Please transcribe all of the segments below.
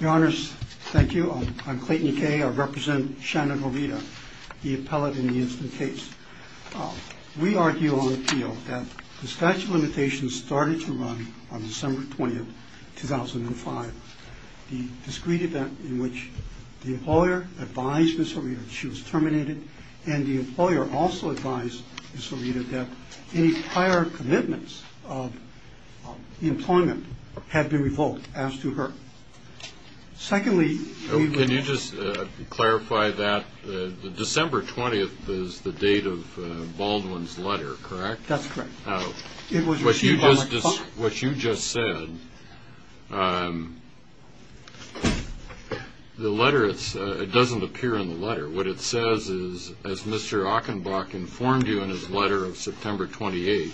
Your honors, thank you. I'm Clayton Kaye. I represent Shannon Horita, the appellate in the instant case. We argue on appeal that the statute of limitations started to run on December 20th, 2005. The discreet event in which the employer advised Ms. Horita that she was terminated and the employer also advised Ms. Horita that any prior commitments of employment had been revoked as to her. Secondly... Can you just clarify that December 20th is the date of Baldwin's letter, correct? That's correct. What you just said, the letter, it doesn't appear in the letter. What it says is, as Mr. Achenbach informed you in his letter of September 28th,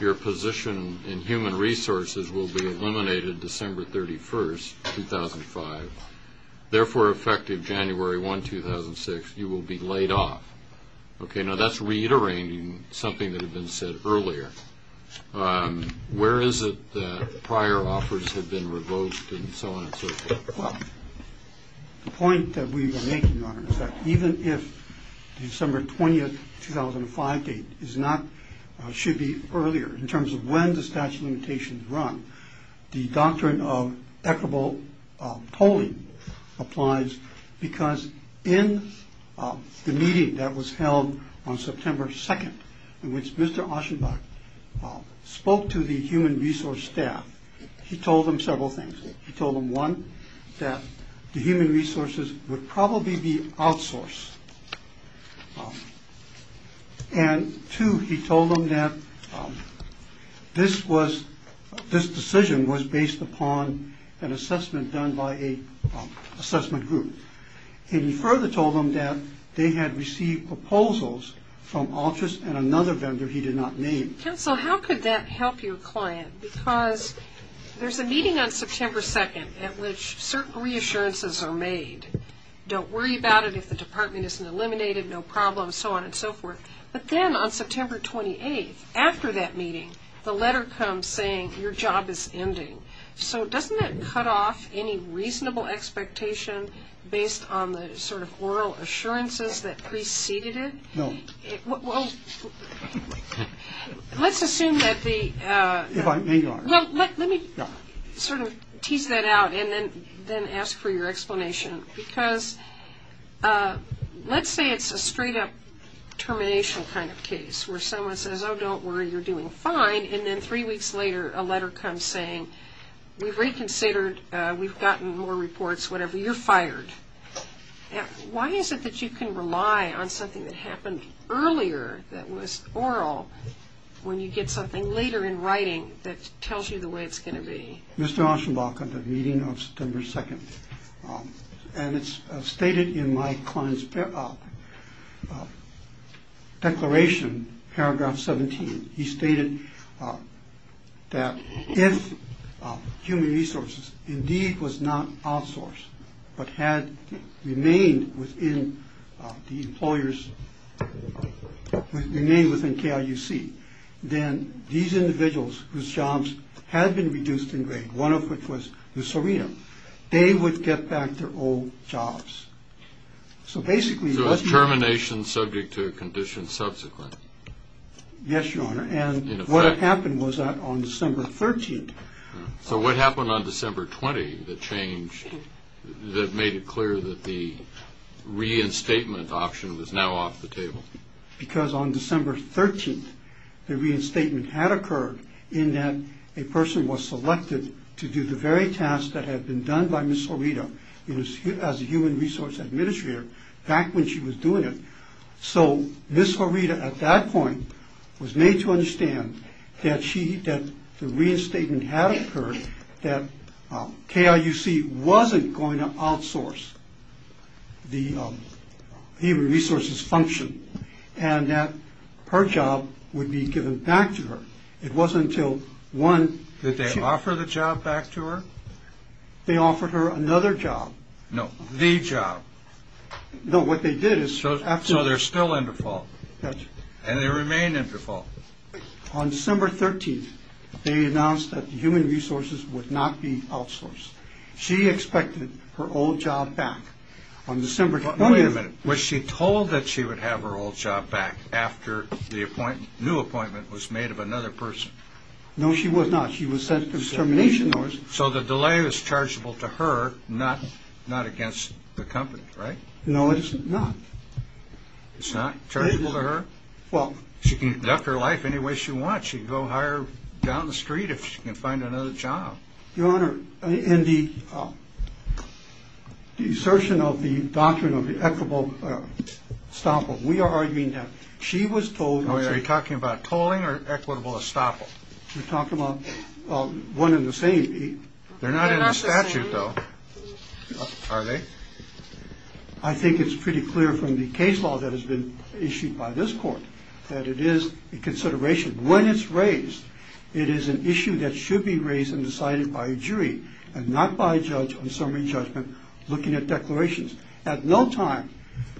your position in human resources will be eliminated December 31st, 2005. Therefore, effective January 1, 2006, you will be laid off. Okay, now that's reiterating something that had been said earlier. Where is it that prior offers had been revoked and so on and so forth? The point that we are making, Your Honor, is that even if December 20th, 2005 date should be earlier in terms of when the statute of limitations run, the doctrine of equitable polling applies because in the meeting that was held on September 2nd, in which Mr. Achenbach spoke to the human resource staff, he told them several things. He told them, one, that the human resources would probably be outsourced. And, two, he told them that this decision was based upon an assessment done by an assessment group. And he further told them that they had received proposals from Altus and another vendor he did not name. Counsel, how could that help your client? Because there's a meeting on September 2nd at which certain reassurances are made. Don't worry about it if the department isn't eliminated, no problem, so on and so forth. But then on September 28th, after that meeting, the letter comes saying your job is ending. So doesn't that cut off any reasonable expectation based on the sort of oral assurances that preceded it? No. Well, let's assume that the- If I may, Your Honor. Well, let me sort of tease that out and then ask for your explanation. Because let's say it's a straight-up termination kind of case where someone says, oh, don't worry, you're doing fine. And then three weeks later, a letter comes saying, we've reconsidered, we've gotten more reports, whatever, you're fired. Why is it that you can rely on something that happened earlier that was oral when you get something later in writing that tells you the way it's going to be? Mr. Auschenbach, at the meeting on September 2nd, and it's stated in my client's declaration, paragraph 17, he stated that if human resources indeed was not outsourced but had remained within the employers, remained within KIUC, then these individuals whose jobs had been reduced in grade, one of which was Lucerino, they would get back their old jobs. So basically- So is termination subject to a condition subsequent? Yes, Your Honor. In effect? And what happened was that on December 13th- So what happened on December 20th that changed, that made it clear that the reinstatement option was now off the table? Because on December 13th, the reinstatement had occurred in that a person was selected to do the very task that had been done by Ms. Horita. It was as a human resource administrator back when she was doing it. So Ms. Horita at that point was made to understand that the reinstatement had occurred, that KIUC wasn't going to outsource the human resources function, and that her job would be given back to her. It wasn't until one- Did they offer the job back to her? They offered her another job. No, the job. No, what they did is- So they're still in default. That's right. And they remain in default. On December 13th, they announced that the human resources would not be outsourced. She expected her old job back on December 20th. Wait a minute. Was she told that she would have her old job back after the new appointment was made of another person? No, she was not. She was sent to termination notice. So the delay was chargeable to her, not against the company, right? No, it's not. It's not chargeable to her? Well- She can conduct her life any way she wants. She can go hire down the street if she can find another job. Your Honor, in the assertion of the doctrine of the equitable estoppel, we are arguing that she was told- Are you talking about tolling or equitable estoppel? You're talking about one and the same. They're not in the statute, though. Are they? I think it's pretty clear from the case law that has been issued by this court that it is a consideration. When it's raised, it is an issue that should be raised and decided by a jury and not by a judge on summary judgment looking at declarations. At no time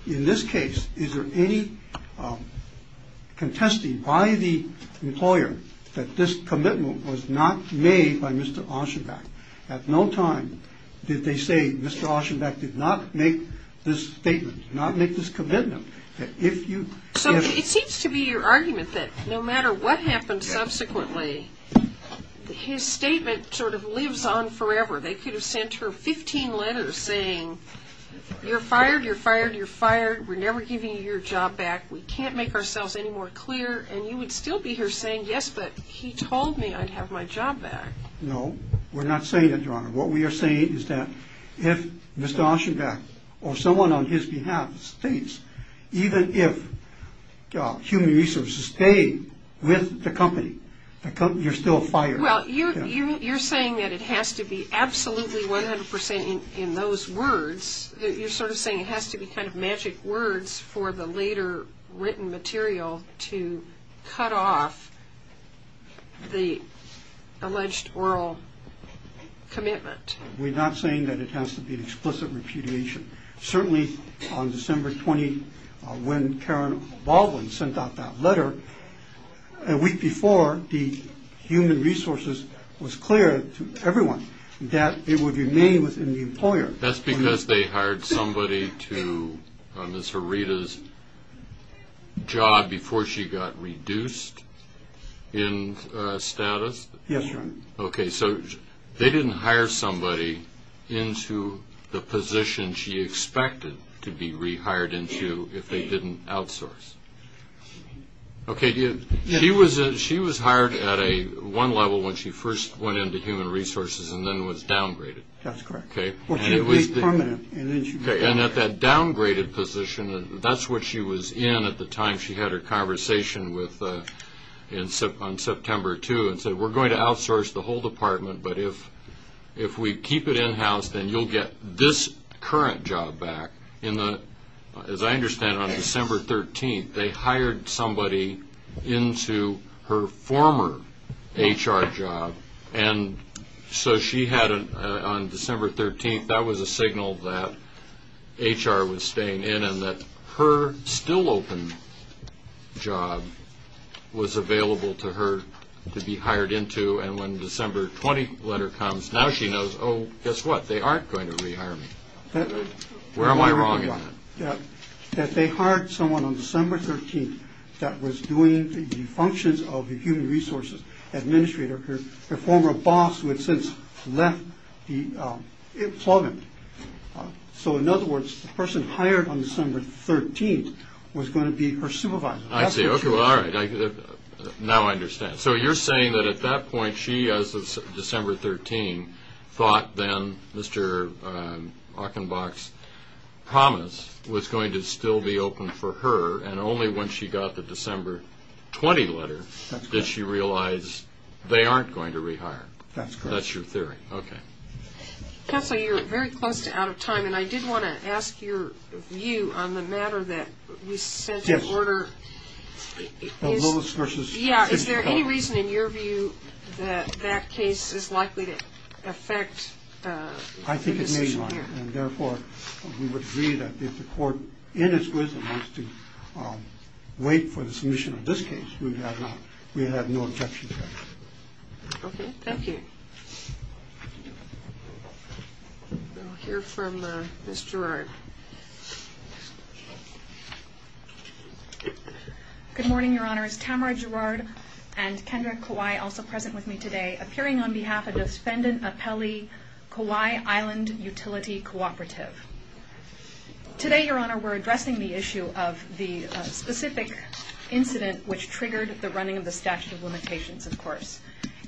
in this case is there any contesting by the employer that this commitment was not made by Mr. Asherback. At no time did they say Mr. Asherback did not make this statement, did not make this commitment, that if you- So it seems to be your argument that no matter what happens subsequently, his statement sort of lives on forever. They could have sent her 15 letters saying, you're fired, you're fired, you're fired, we're never giving you your job back, we can't make ourselves any more clear, and you would still be here saying, yes, but he told me I'd have my job back. No, we're not saying that, Your Honor. What we are saying is that if Mr. Asherback or someone on his behalf states even if human resources stayed with the company, you're still fired. Well, you're saying that it has to be absolutely 100 percent in those words. You're sort of saying it has to be kind of magic words for the later written material to cut off the alleged oral commitment. We're not saying that it has to be an explicit repudiation. Certainly on December 20, when Karen Baldwin sent out that letter, a week before, the human resources was clear to everyone that it would remain within the employer. That's because they hired somebody to Ms. Herita's job before she got reduced in status? Yes, Your Honor. Okay, so they didn't hire somebody into the position she expected to be rehired into if they didn't outsource. She was hired at one level when she first went into human resources and then was downgraded. That's correct. Okay, and at that downgraded position, that's what she was in at the time. She had her conversation on September 2 and said, we're going to outsource the whole department, but if we keep it in-house, then you'll get this current job back. As I understand, on December 13, they hired somebody into her former HR job. And so she had, on December 13, that was a signal that HR was staying in and that her still open job was available to her to be hired into. And when the December 20 letter comes, now she knows, oh, guess what? They aren't going to rehire me. Where am I wrong in that? That they hired someone on December 13 that was doing the functions of the Human Resources Administrator, her former boss who had since left the employment. So in other words, the person hired on December 13 was going to be her supervisor. I see. Okay, well, all right. Now I understand. So you're saying that at that point, she, as of December 13, thought then Mr. Achenbach's promise was going to still be open for her, and only when she got the December 20 letter did she realize they aren't going to rehire. That's correct. That's your theory. Okay. Counselor, you're very close to out of time, and I did want to ask your view on the matter that we sent your order. Yeah, is there any reason in your view that that case is likely to affect the decision here? I think it may, Your Honor, and therefore we would agree that if the court in its wisdom wants to wait for the submission of this case, we have no objection to that. Okay, thank you. We'll hear from Ms. Gerard. Good morning, Your Honors. Tamara Gerard and Kendra Kawai, also present with me today, appearing on behalf of the Defendant Appellee Kawai Island Utility Cooperative. Today, Your Honor, we're addressing the issue of the specific incident which triggered the running of the statute of limitations, of course.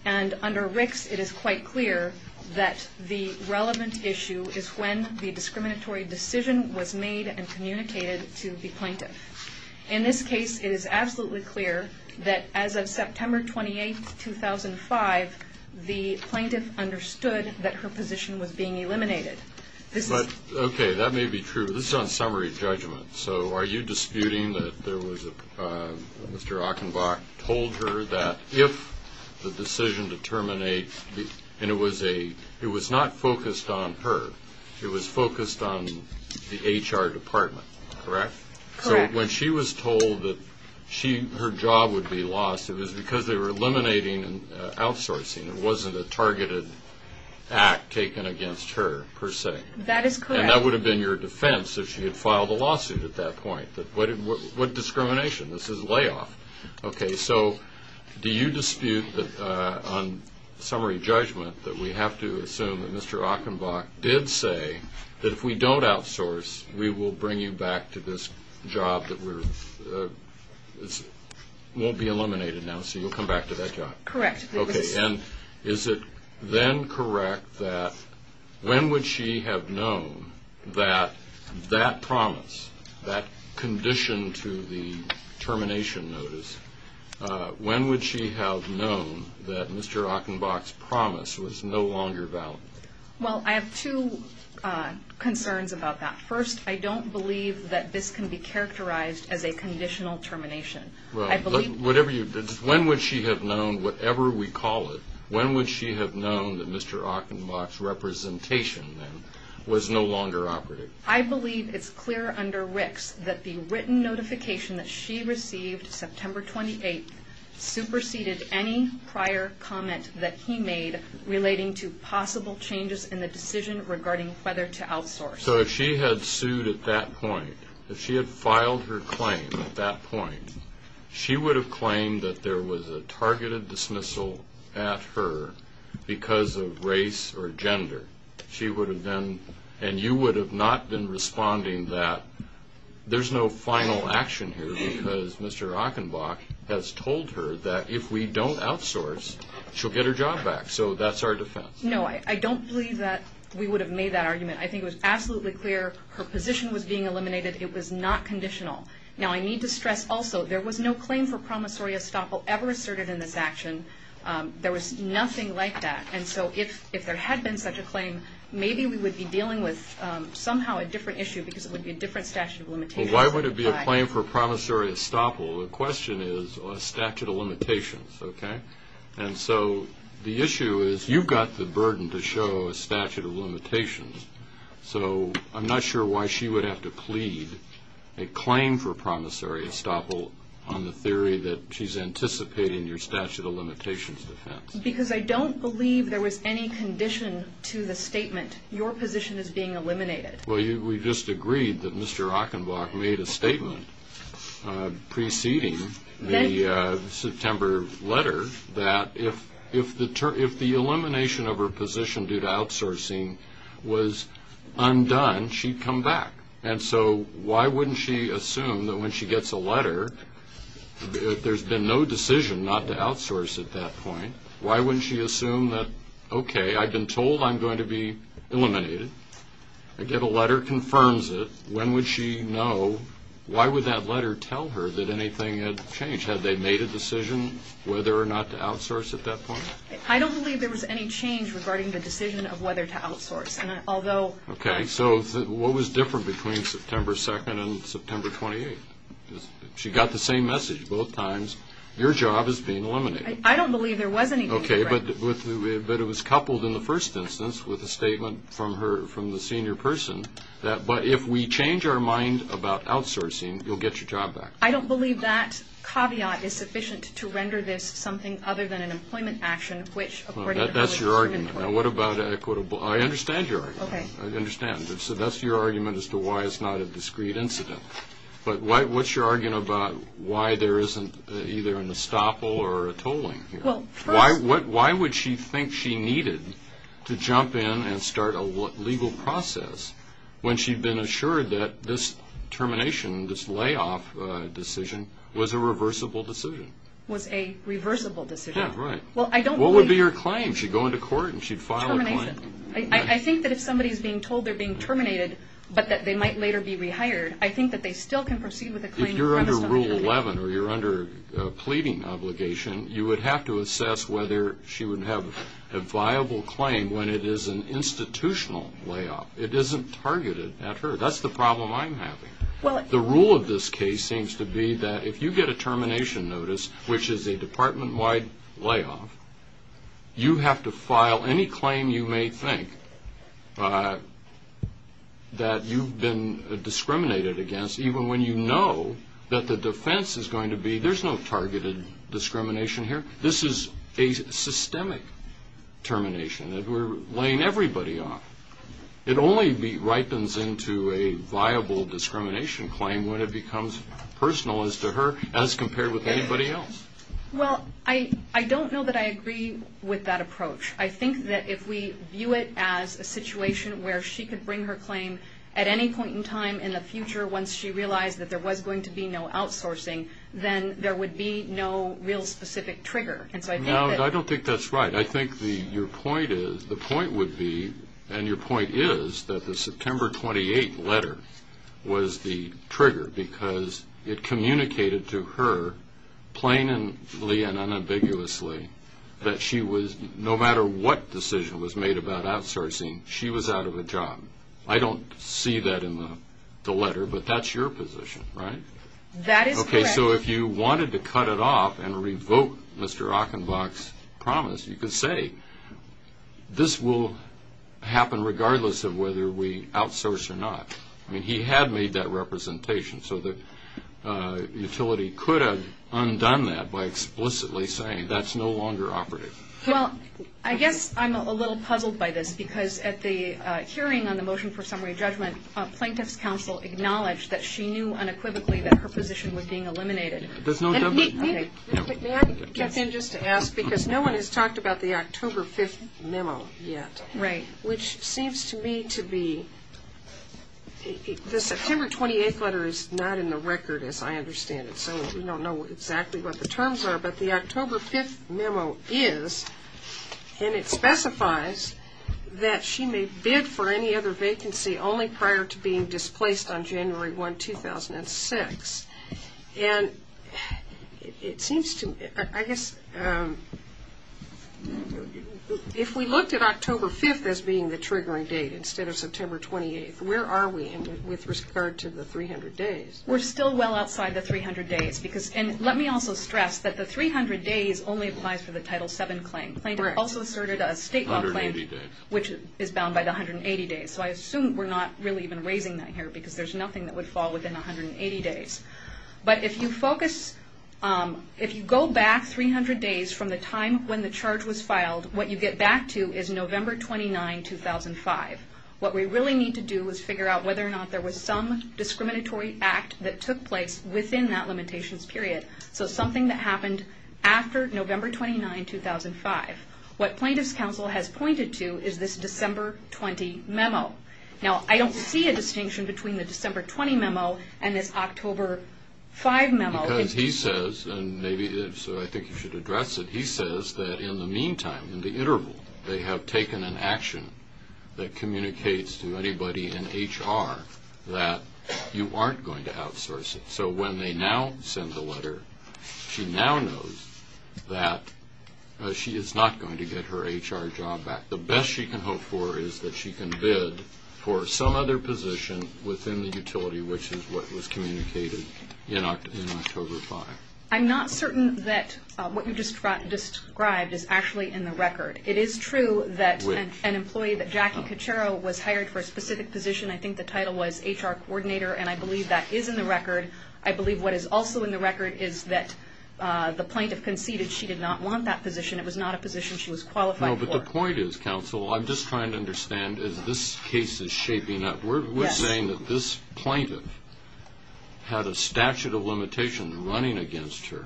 And under Ricks, it is quite clear that the relevant issue is when the discriminatory decision was made and communicated to the plaintiff. In this case, it is absolutely clear that as of September 28, 2005, the plaintiff understood that her position was being eliminated. Okay, that may be true, but this is on summary judgment, so are you disputing that there was a Mr. Achenbach told her that if the decision to terminate, and it was not focused on her, it was focused on the HR department, correct? Correct. So when she was told that her job would be lost, it was because they were eliminating outsourcing. It wasn't a targeted act taken against her, per se. That is correct. And that would have been your defense if she had filed a lawsuit at that point. What discrimination? This is layoff. Okay, so do you dispute on summary judgment that we have to assume that Mr. Achenbach did say that if we don't outsource, we will bring you back to this job that won't be eliminated now, so you'll come back to that job? Correct. Okay, and is it then correct that when would she have known that that promise, that condition to the termination notice, when would she have known that Mr. Achenbach's promise was no longer valid? Well, I have two concerns about that. First, I don't believe that this can be characterized as a conditional termination. When would she have known, whatever we call it, when would she have known that Mr. Achenbach's representation then was no longer operative? I believe it's clear under RICS that the written notification that she received September 28th regarding whether to outsource. So if she had sued at that point, if she had filed her claim at that point, she would have claimed that there was a targeted dismissal at her because of race or gender. She would have then, and you would have not been responding that there's no final action here because Mr. Achenbach has told her that if we don't outsource, she'll get her job back, so that's our defense. No, I don't believe that we would have made that argument. I think it was absolutely clear her position was being eliminated. It was not conditional. Now, I need to stress also there was no claim for promissory estoppel ever asserted in this action. There was nothing like that, and so if there had been such a claim, maybe we would be dealing with somehow a different issue because it would be a different statute of limitations. Well, why would it be a claim for promissory estoppel? The question is a statute of limitations, okay? And so the issue is you've got the burden to show a statute of limitations, so I'm not sure why she would have to plead a claim for promissory estoppel on the theory that she's anticipating your statute of limitations defense. Because I don't believe there was any condition to the statement, your position is being eliminated. Well, we just agreed that Mr. Achenbach made a statement preceding the September letter that if the elimination of her position due to outsourcing was undone, she'd come back. And so why wouldn't she assume that when she gets a letter, there's been no decision not to outsource at that point, why wouldn't she assume that, okay, I've been told I'm going to be eliminated, I get a letter confirms it, when would she know, why would that letter tell her that anything had changed? Had they made a decision whether or not to outsource at that point? I don't believe there was any change regarding the decision of whether to outsource. Okay, so what was different between September 2nd and September 28th? She got the same message both times, your job is being eliminated. I don't believe there was anything different. Okay, but it was coupled in the first instance with a statement from the senior person, that if we change our mind about outsourcing, you'll get your job back. I don't believe that caveat is sufficient to render this something other than an employment action, which according to her was discriminatory. That's your argument. Now what about equitable? I understand your argument. Okay. I understand. So that's your argument as to why it's not a discrete incident. But what's your argument about why there isn't either an estoppel or a tolling here? Why would she think she needed to jump in and start a legal process when she'd been assured that this termination, this layoff decision, was a reversible decision? Was a reversible decision. Yeah, right. What would be her claim? She'd go into court and she'd file a claim. Termination. I think that if somebody's being told they're being terminated but that they might later be rehired, I think that they still can proceed with a claim. If you're under Rule 11 or you're under a pleading obligation, you would have to assess whether she would have a viable claim when it is an institutional layoff. It isn't targeted at her. That's the problem I'm having. The rule of this case seems to be that if you get a termination notice, which is a department-wide layoff, you have to file any claim you may think that you've been discriminated against, even when you know that the defense is going to be there's no targeted discrimination here. This is a systemic termination. We're laying everybody off. It only ripens into a viable discrimination claim when it becomes personal as to her as compared with anybody else. Well, I don't know that I agree with that approach. I think that if we view it as a situation where she could bring her claim at any point in time in the future once she realized that there was going to be no outsourcing, then there would be no real specific trigger. No, I don't think that's right. I think the point would be, and your point is, that the September 28 letter was the trigger because it communicated to her plainly and unambiguously that she was, no matter what decision was made about outsourcing, she was out of a job. I don't see that in the letter, but that's your position, right? That is correct. Okay, so if you wanted to cut it off and revoke Mr. Achenbach's promise, you could say this will happen regardless of whether we outsource or not. I mean, he had made that representation, so the utility could have undone that by explicitly saying that's no longer operative. Well, I guess I'm a little puzzled by this, because at the hearing on the motion for summary judgment, plaintiff's counsel acknowledged that she knew unequivocally that her position was being eliminated. There's no doubt about that. May I get in just to ask, because no one has talked about the October 5th memo yet, which seems to me to be, the September 28th letter is not in the record as I understand it, so we don't know exactly what the terms are, but the October 5th memo is, and it specifies that she may bid for any other vacancy only prior to being displaced on January 1, 2006. And it seems to me, I guess, if we looked at October 5th as being the triggering date instead of September 28th, where are we with regard to the 300 days? We're still well outside the 300 days. And let me also stress that the 300 days only applies for the Title VII claim. Plaintiff also asserted a state law claim which is bound by the 180 days, so I assume we're not really even raising that here, because there's nothing that would fall within 180 days. But if you focus, if you go back 300 days from the time when the charge was filed, what you get back to is November 29, 2005. What we really need to do is figure out whether or not there was some discriminatory act that took place within that limitations period, so something that happened after November 29, 2005. What plaintiff's counsel has pointed to is this December 20 memo. Now, I don't see a distinction between the December 20 memo and this October 5 memo. Because he says, and maybe so I think you should address it, he says that in the meantime, in the interval, they have taken an action that communicates to anybody in HR that you aren't going to outsource it. So when they now send the letter, she now knows that she is not going to get her HR job back. The best she can hope for is that she can bid for some other position within the utility, which is what was communicated in October 5. I'm not certain that what you just described is actually in the record. It is true that an employee, Jackie Caccero, was hired for a specific position. I think the title was HR coordinator, and I believe that is in the record. I believe what is also in the record is that the plaintiff conceded she did not want that position. It was not a position she was qualified for. No, but the point is, counsel, I'm just trying to understand, as this case is shaping up, we're saying that this plaintiff had a statute of limitations running against her,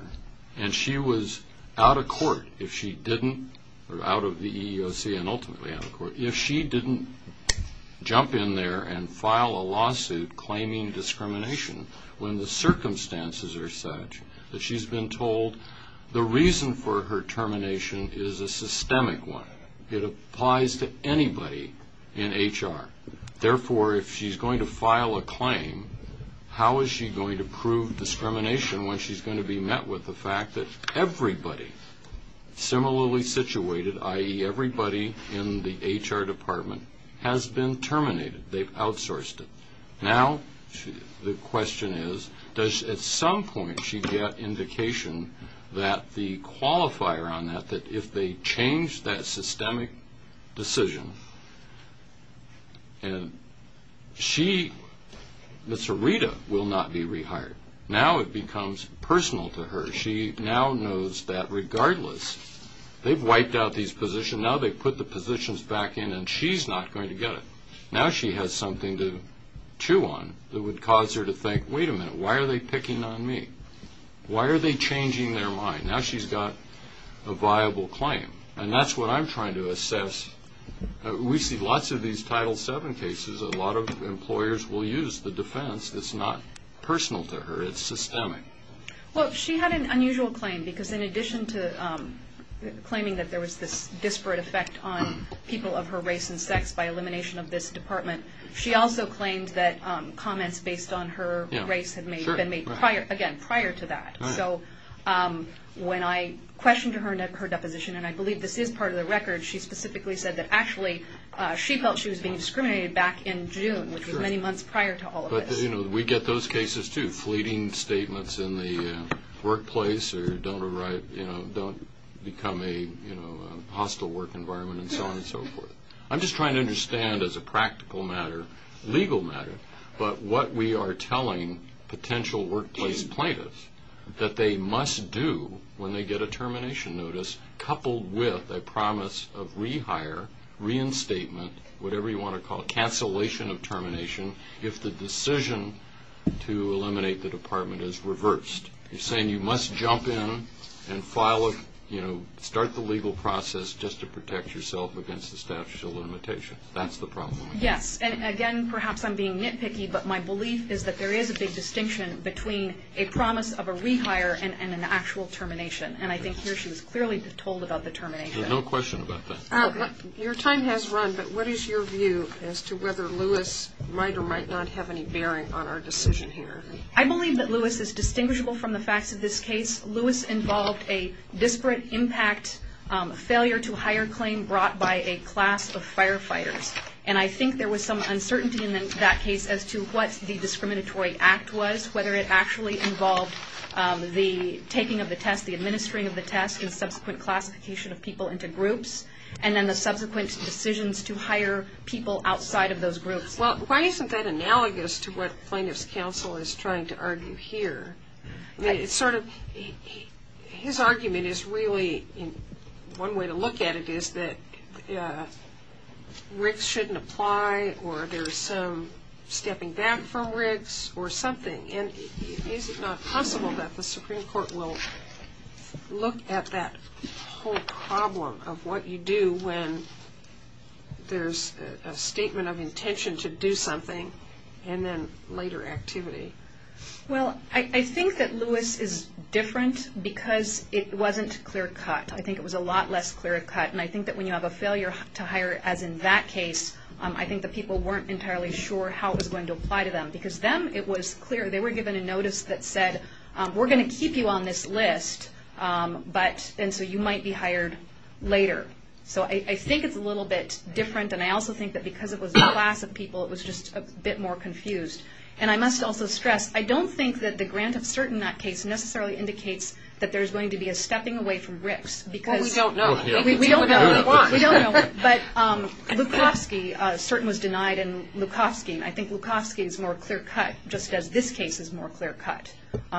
and she was out of court if she didn't, or out of the EEOC and ultimately out of court, if she didn't jump in there and file a lawsuit claiming discrimination when the circumstances are such that she's been told the reason for her termination is a systemic one. It applies to anybody in HR. Therefore, if she's going to file a claim, how is she going to prove discrimination when she's going to be met with the fact that everybody similarly situated, i.e., everybody in the HR department, has been terminated, they've outsourced it? Now the question is, does at some point she get indication that the qualifier on that, that if they change that systemic decision, she, Ms. Arita, will not be rehired. Now it becomes personal to her. She now knows that regardless. They've wiped out these positions. Now they've put the positions back in, and she's not going to get it. Now she has something to chew on that would cause her to think, wait a minute, why are they picking on me? Why are they changing their mind? Now she's got a viable claim, and that's what I'm trying to assess. We see lots of these Title VII cases. A lot of employers will use the defense. It's not personal to her. It's systemic. Well, she had an unusual claim because in addition to claiming that there was this disparate effect on people of her race and sex by elimination of this department, she also claimed that comments based on her race had been made, again, prior to that. So when I questioned her deposition, and I believe this is part of the record, she specifically said that actually she felt she was being discriminated back in June, which was many months prior to all of this. But, you know, we get those cases too. Fleeting statements in the workplace or don't become a hostile work environment and so on and so forth. I'm just trying to understand as a practical matter, legal matter, but what we are telling potential workplace plaintiffs that they must do when they get a termination notice coupled with a promise of rehire, reinstatement, whatever you want to call it, cancellation of termination, if the decision to eliminate the department is reversed. You're saying you must jump in and file a, you know, start the legal process just to protect yourself against the statute of limitations. That's the problem. Yes, and again, perhaps I'm being nitpicky, but my belief is that there is a big distinction between a promise of a rehire and an actual termination. And I think here she was clearly told about the termination. No question about that. Your time has run, but what is your view as to whether Lewis might or might not have any bearing on our decision here? I believe that Lewis is distinguishable from the facts of this case. Lewis involved a disparate impact failure to hire claim brought by a class of firefighters. And I think there was some uncertainty in that case as to what the discriminatory act was, whether it actually involved the taking of the test, the administering of the test, and subsequent classification of people into groups, and then the subsequent decisions to hire people outside of those groups. Well, why isn't that analogous to what plaintiff's counsel is trying to argue here? I mean, it's sort of, his argument is really, one way to look at it is that Riggs shouldn't apply or there's some stepping back from Riggs or something. And is it not possible that the Supreme Court will look at that whole problem of what you do when there's a statement of intention to do something and then later activity? Well, I think that Lewis is different because it wasn't clear cut. I think it was a lot less clear cut. And I think that when you have a failure to hire, as in that case, I think the people weren't entirely sure how it was going to apply to them. Because them, it was clear. They were given a notice that said, we're going to keep you on this list, and so you might be hired later. So I think it's a little bit different. And I also think that because it was a class of people, it was just a bit more confused. And I must also stress, I don't think that the grant of cert in that case necessarily indicates that there's going to be a stepping away from Riggs. Well, we don't know. We don't know. We don't know. But Lukofsky, cert was denied in Lukofsky, and I think Lukofsky is more clear cut, just as this case is more clear cut.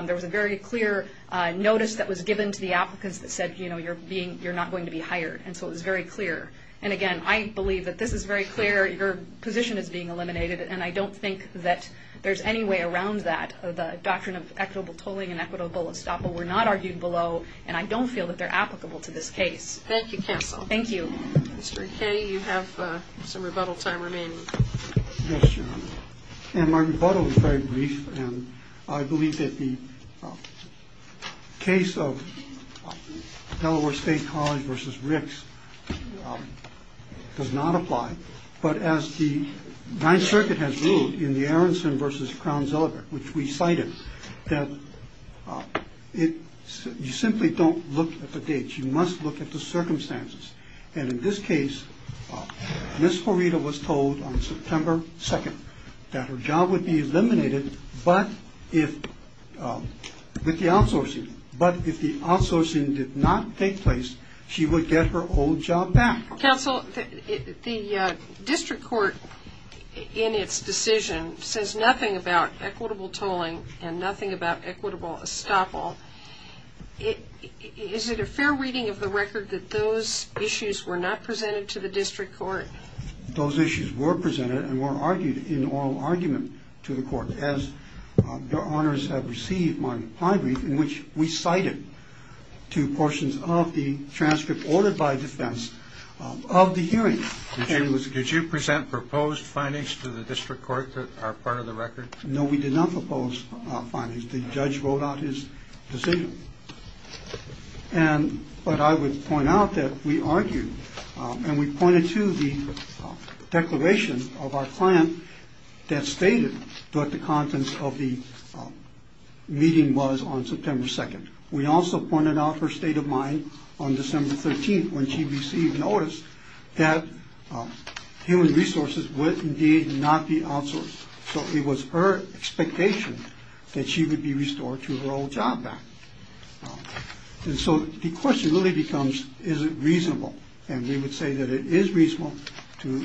There was a very clear notice that was given to the applicants that said, you know, you're not going to be hired, and so it was very clear. And, again, I believe that this is very clear. Your position is being eliminated, and I don't think that there's any way around that. The doctrine of equitable tolling and equitable estoppel were not argued below, and I don't feel that they're applicable to this case. Thank you, counsel. Thank you. Mr. McKay, you have some rebuttal time remaining. Yes, Your Honor. And my rebuttal is very brief, and I believe that the case of Delaware State College versus Riggs does not apply. But as the Ninth Circuit has ruled in the Aronson versus Crowns Element, which we cited, that you simply don't look at the dates. You must look at the circumstances. And in this case, Ms. Farida was told on September 2nd that her job would be eliminated, but if the outsourcing did not take place, she would get her old job back. Counsel, the district court in its decision says nothing about equitable tolling and nothing about equitable estoppel. Is it a fair reading of the record that those issues were not presented to the district court? Those issues were presented and were argued in oral argument to the court, as Your Honors have received my brief, in which we cited two portions of the transcript ordered by defense of the hearing. Did you present proposed findings to the district court that are part of the record? No, we did not propose findings. The judge wrote out his decision. And but I would point out that we argued and we pointed to the declaration of our client that stated what the contents of the meeting was on September 2nd. We also pointed out her state of mind on December 13th when she received notice that human resources would indeed not be outsourced. So it was her expectation that she would be restored to her old job back. And so the question really becomes, is it reasonable? And we would say that it is reasonable to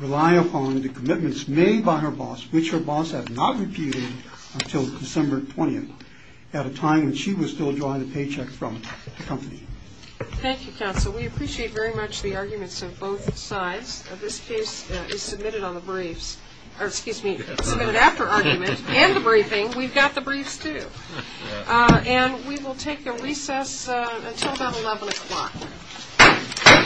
rely upon the commitments made by her boss, which her boss has not repeated until December 20th at a time when she was still drawing a paycheck from the company. Thank you, Counsel. We appreciate very much the arguments of both sides. This case is submitted on the briefs, or excuse me, submitted after argument and the briefing. We've got the briefs, too. And we will take a recess until about 11 o'clock.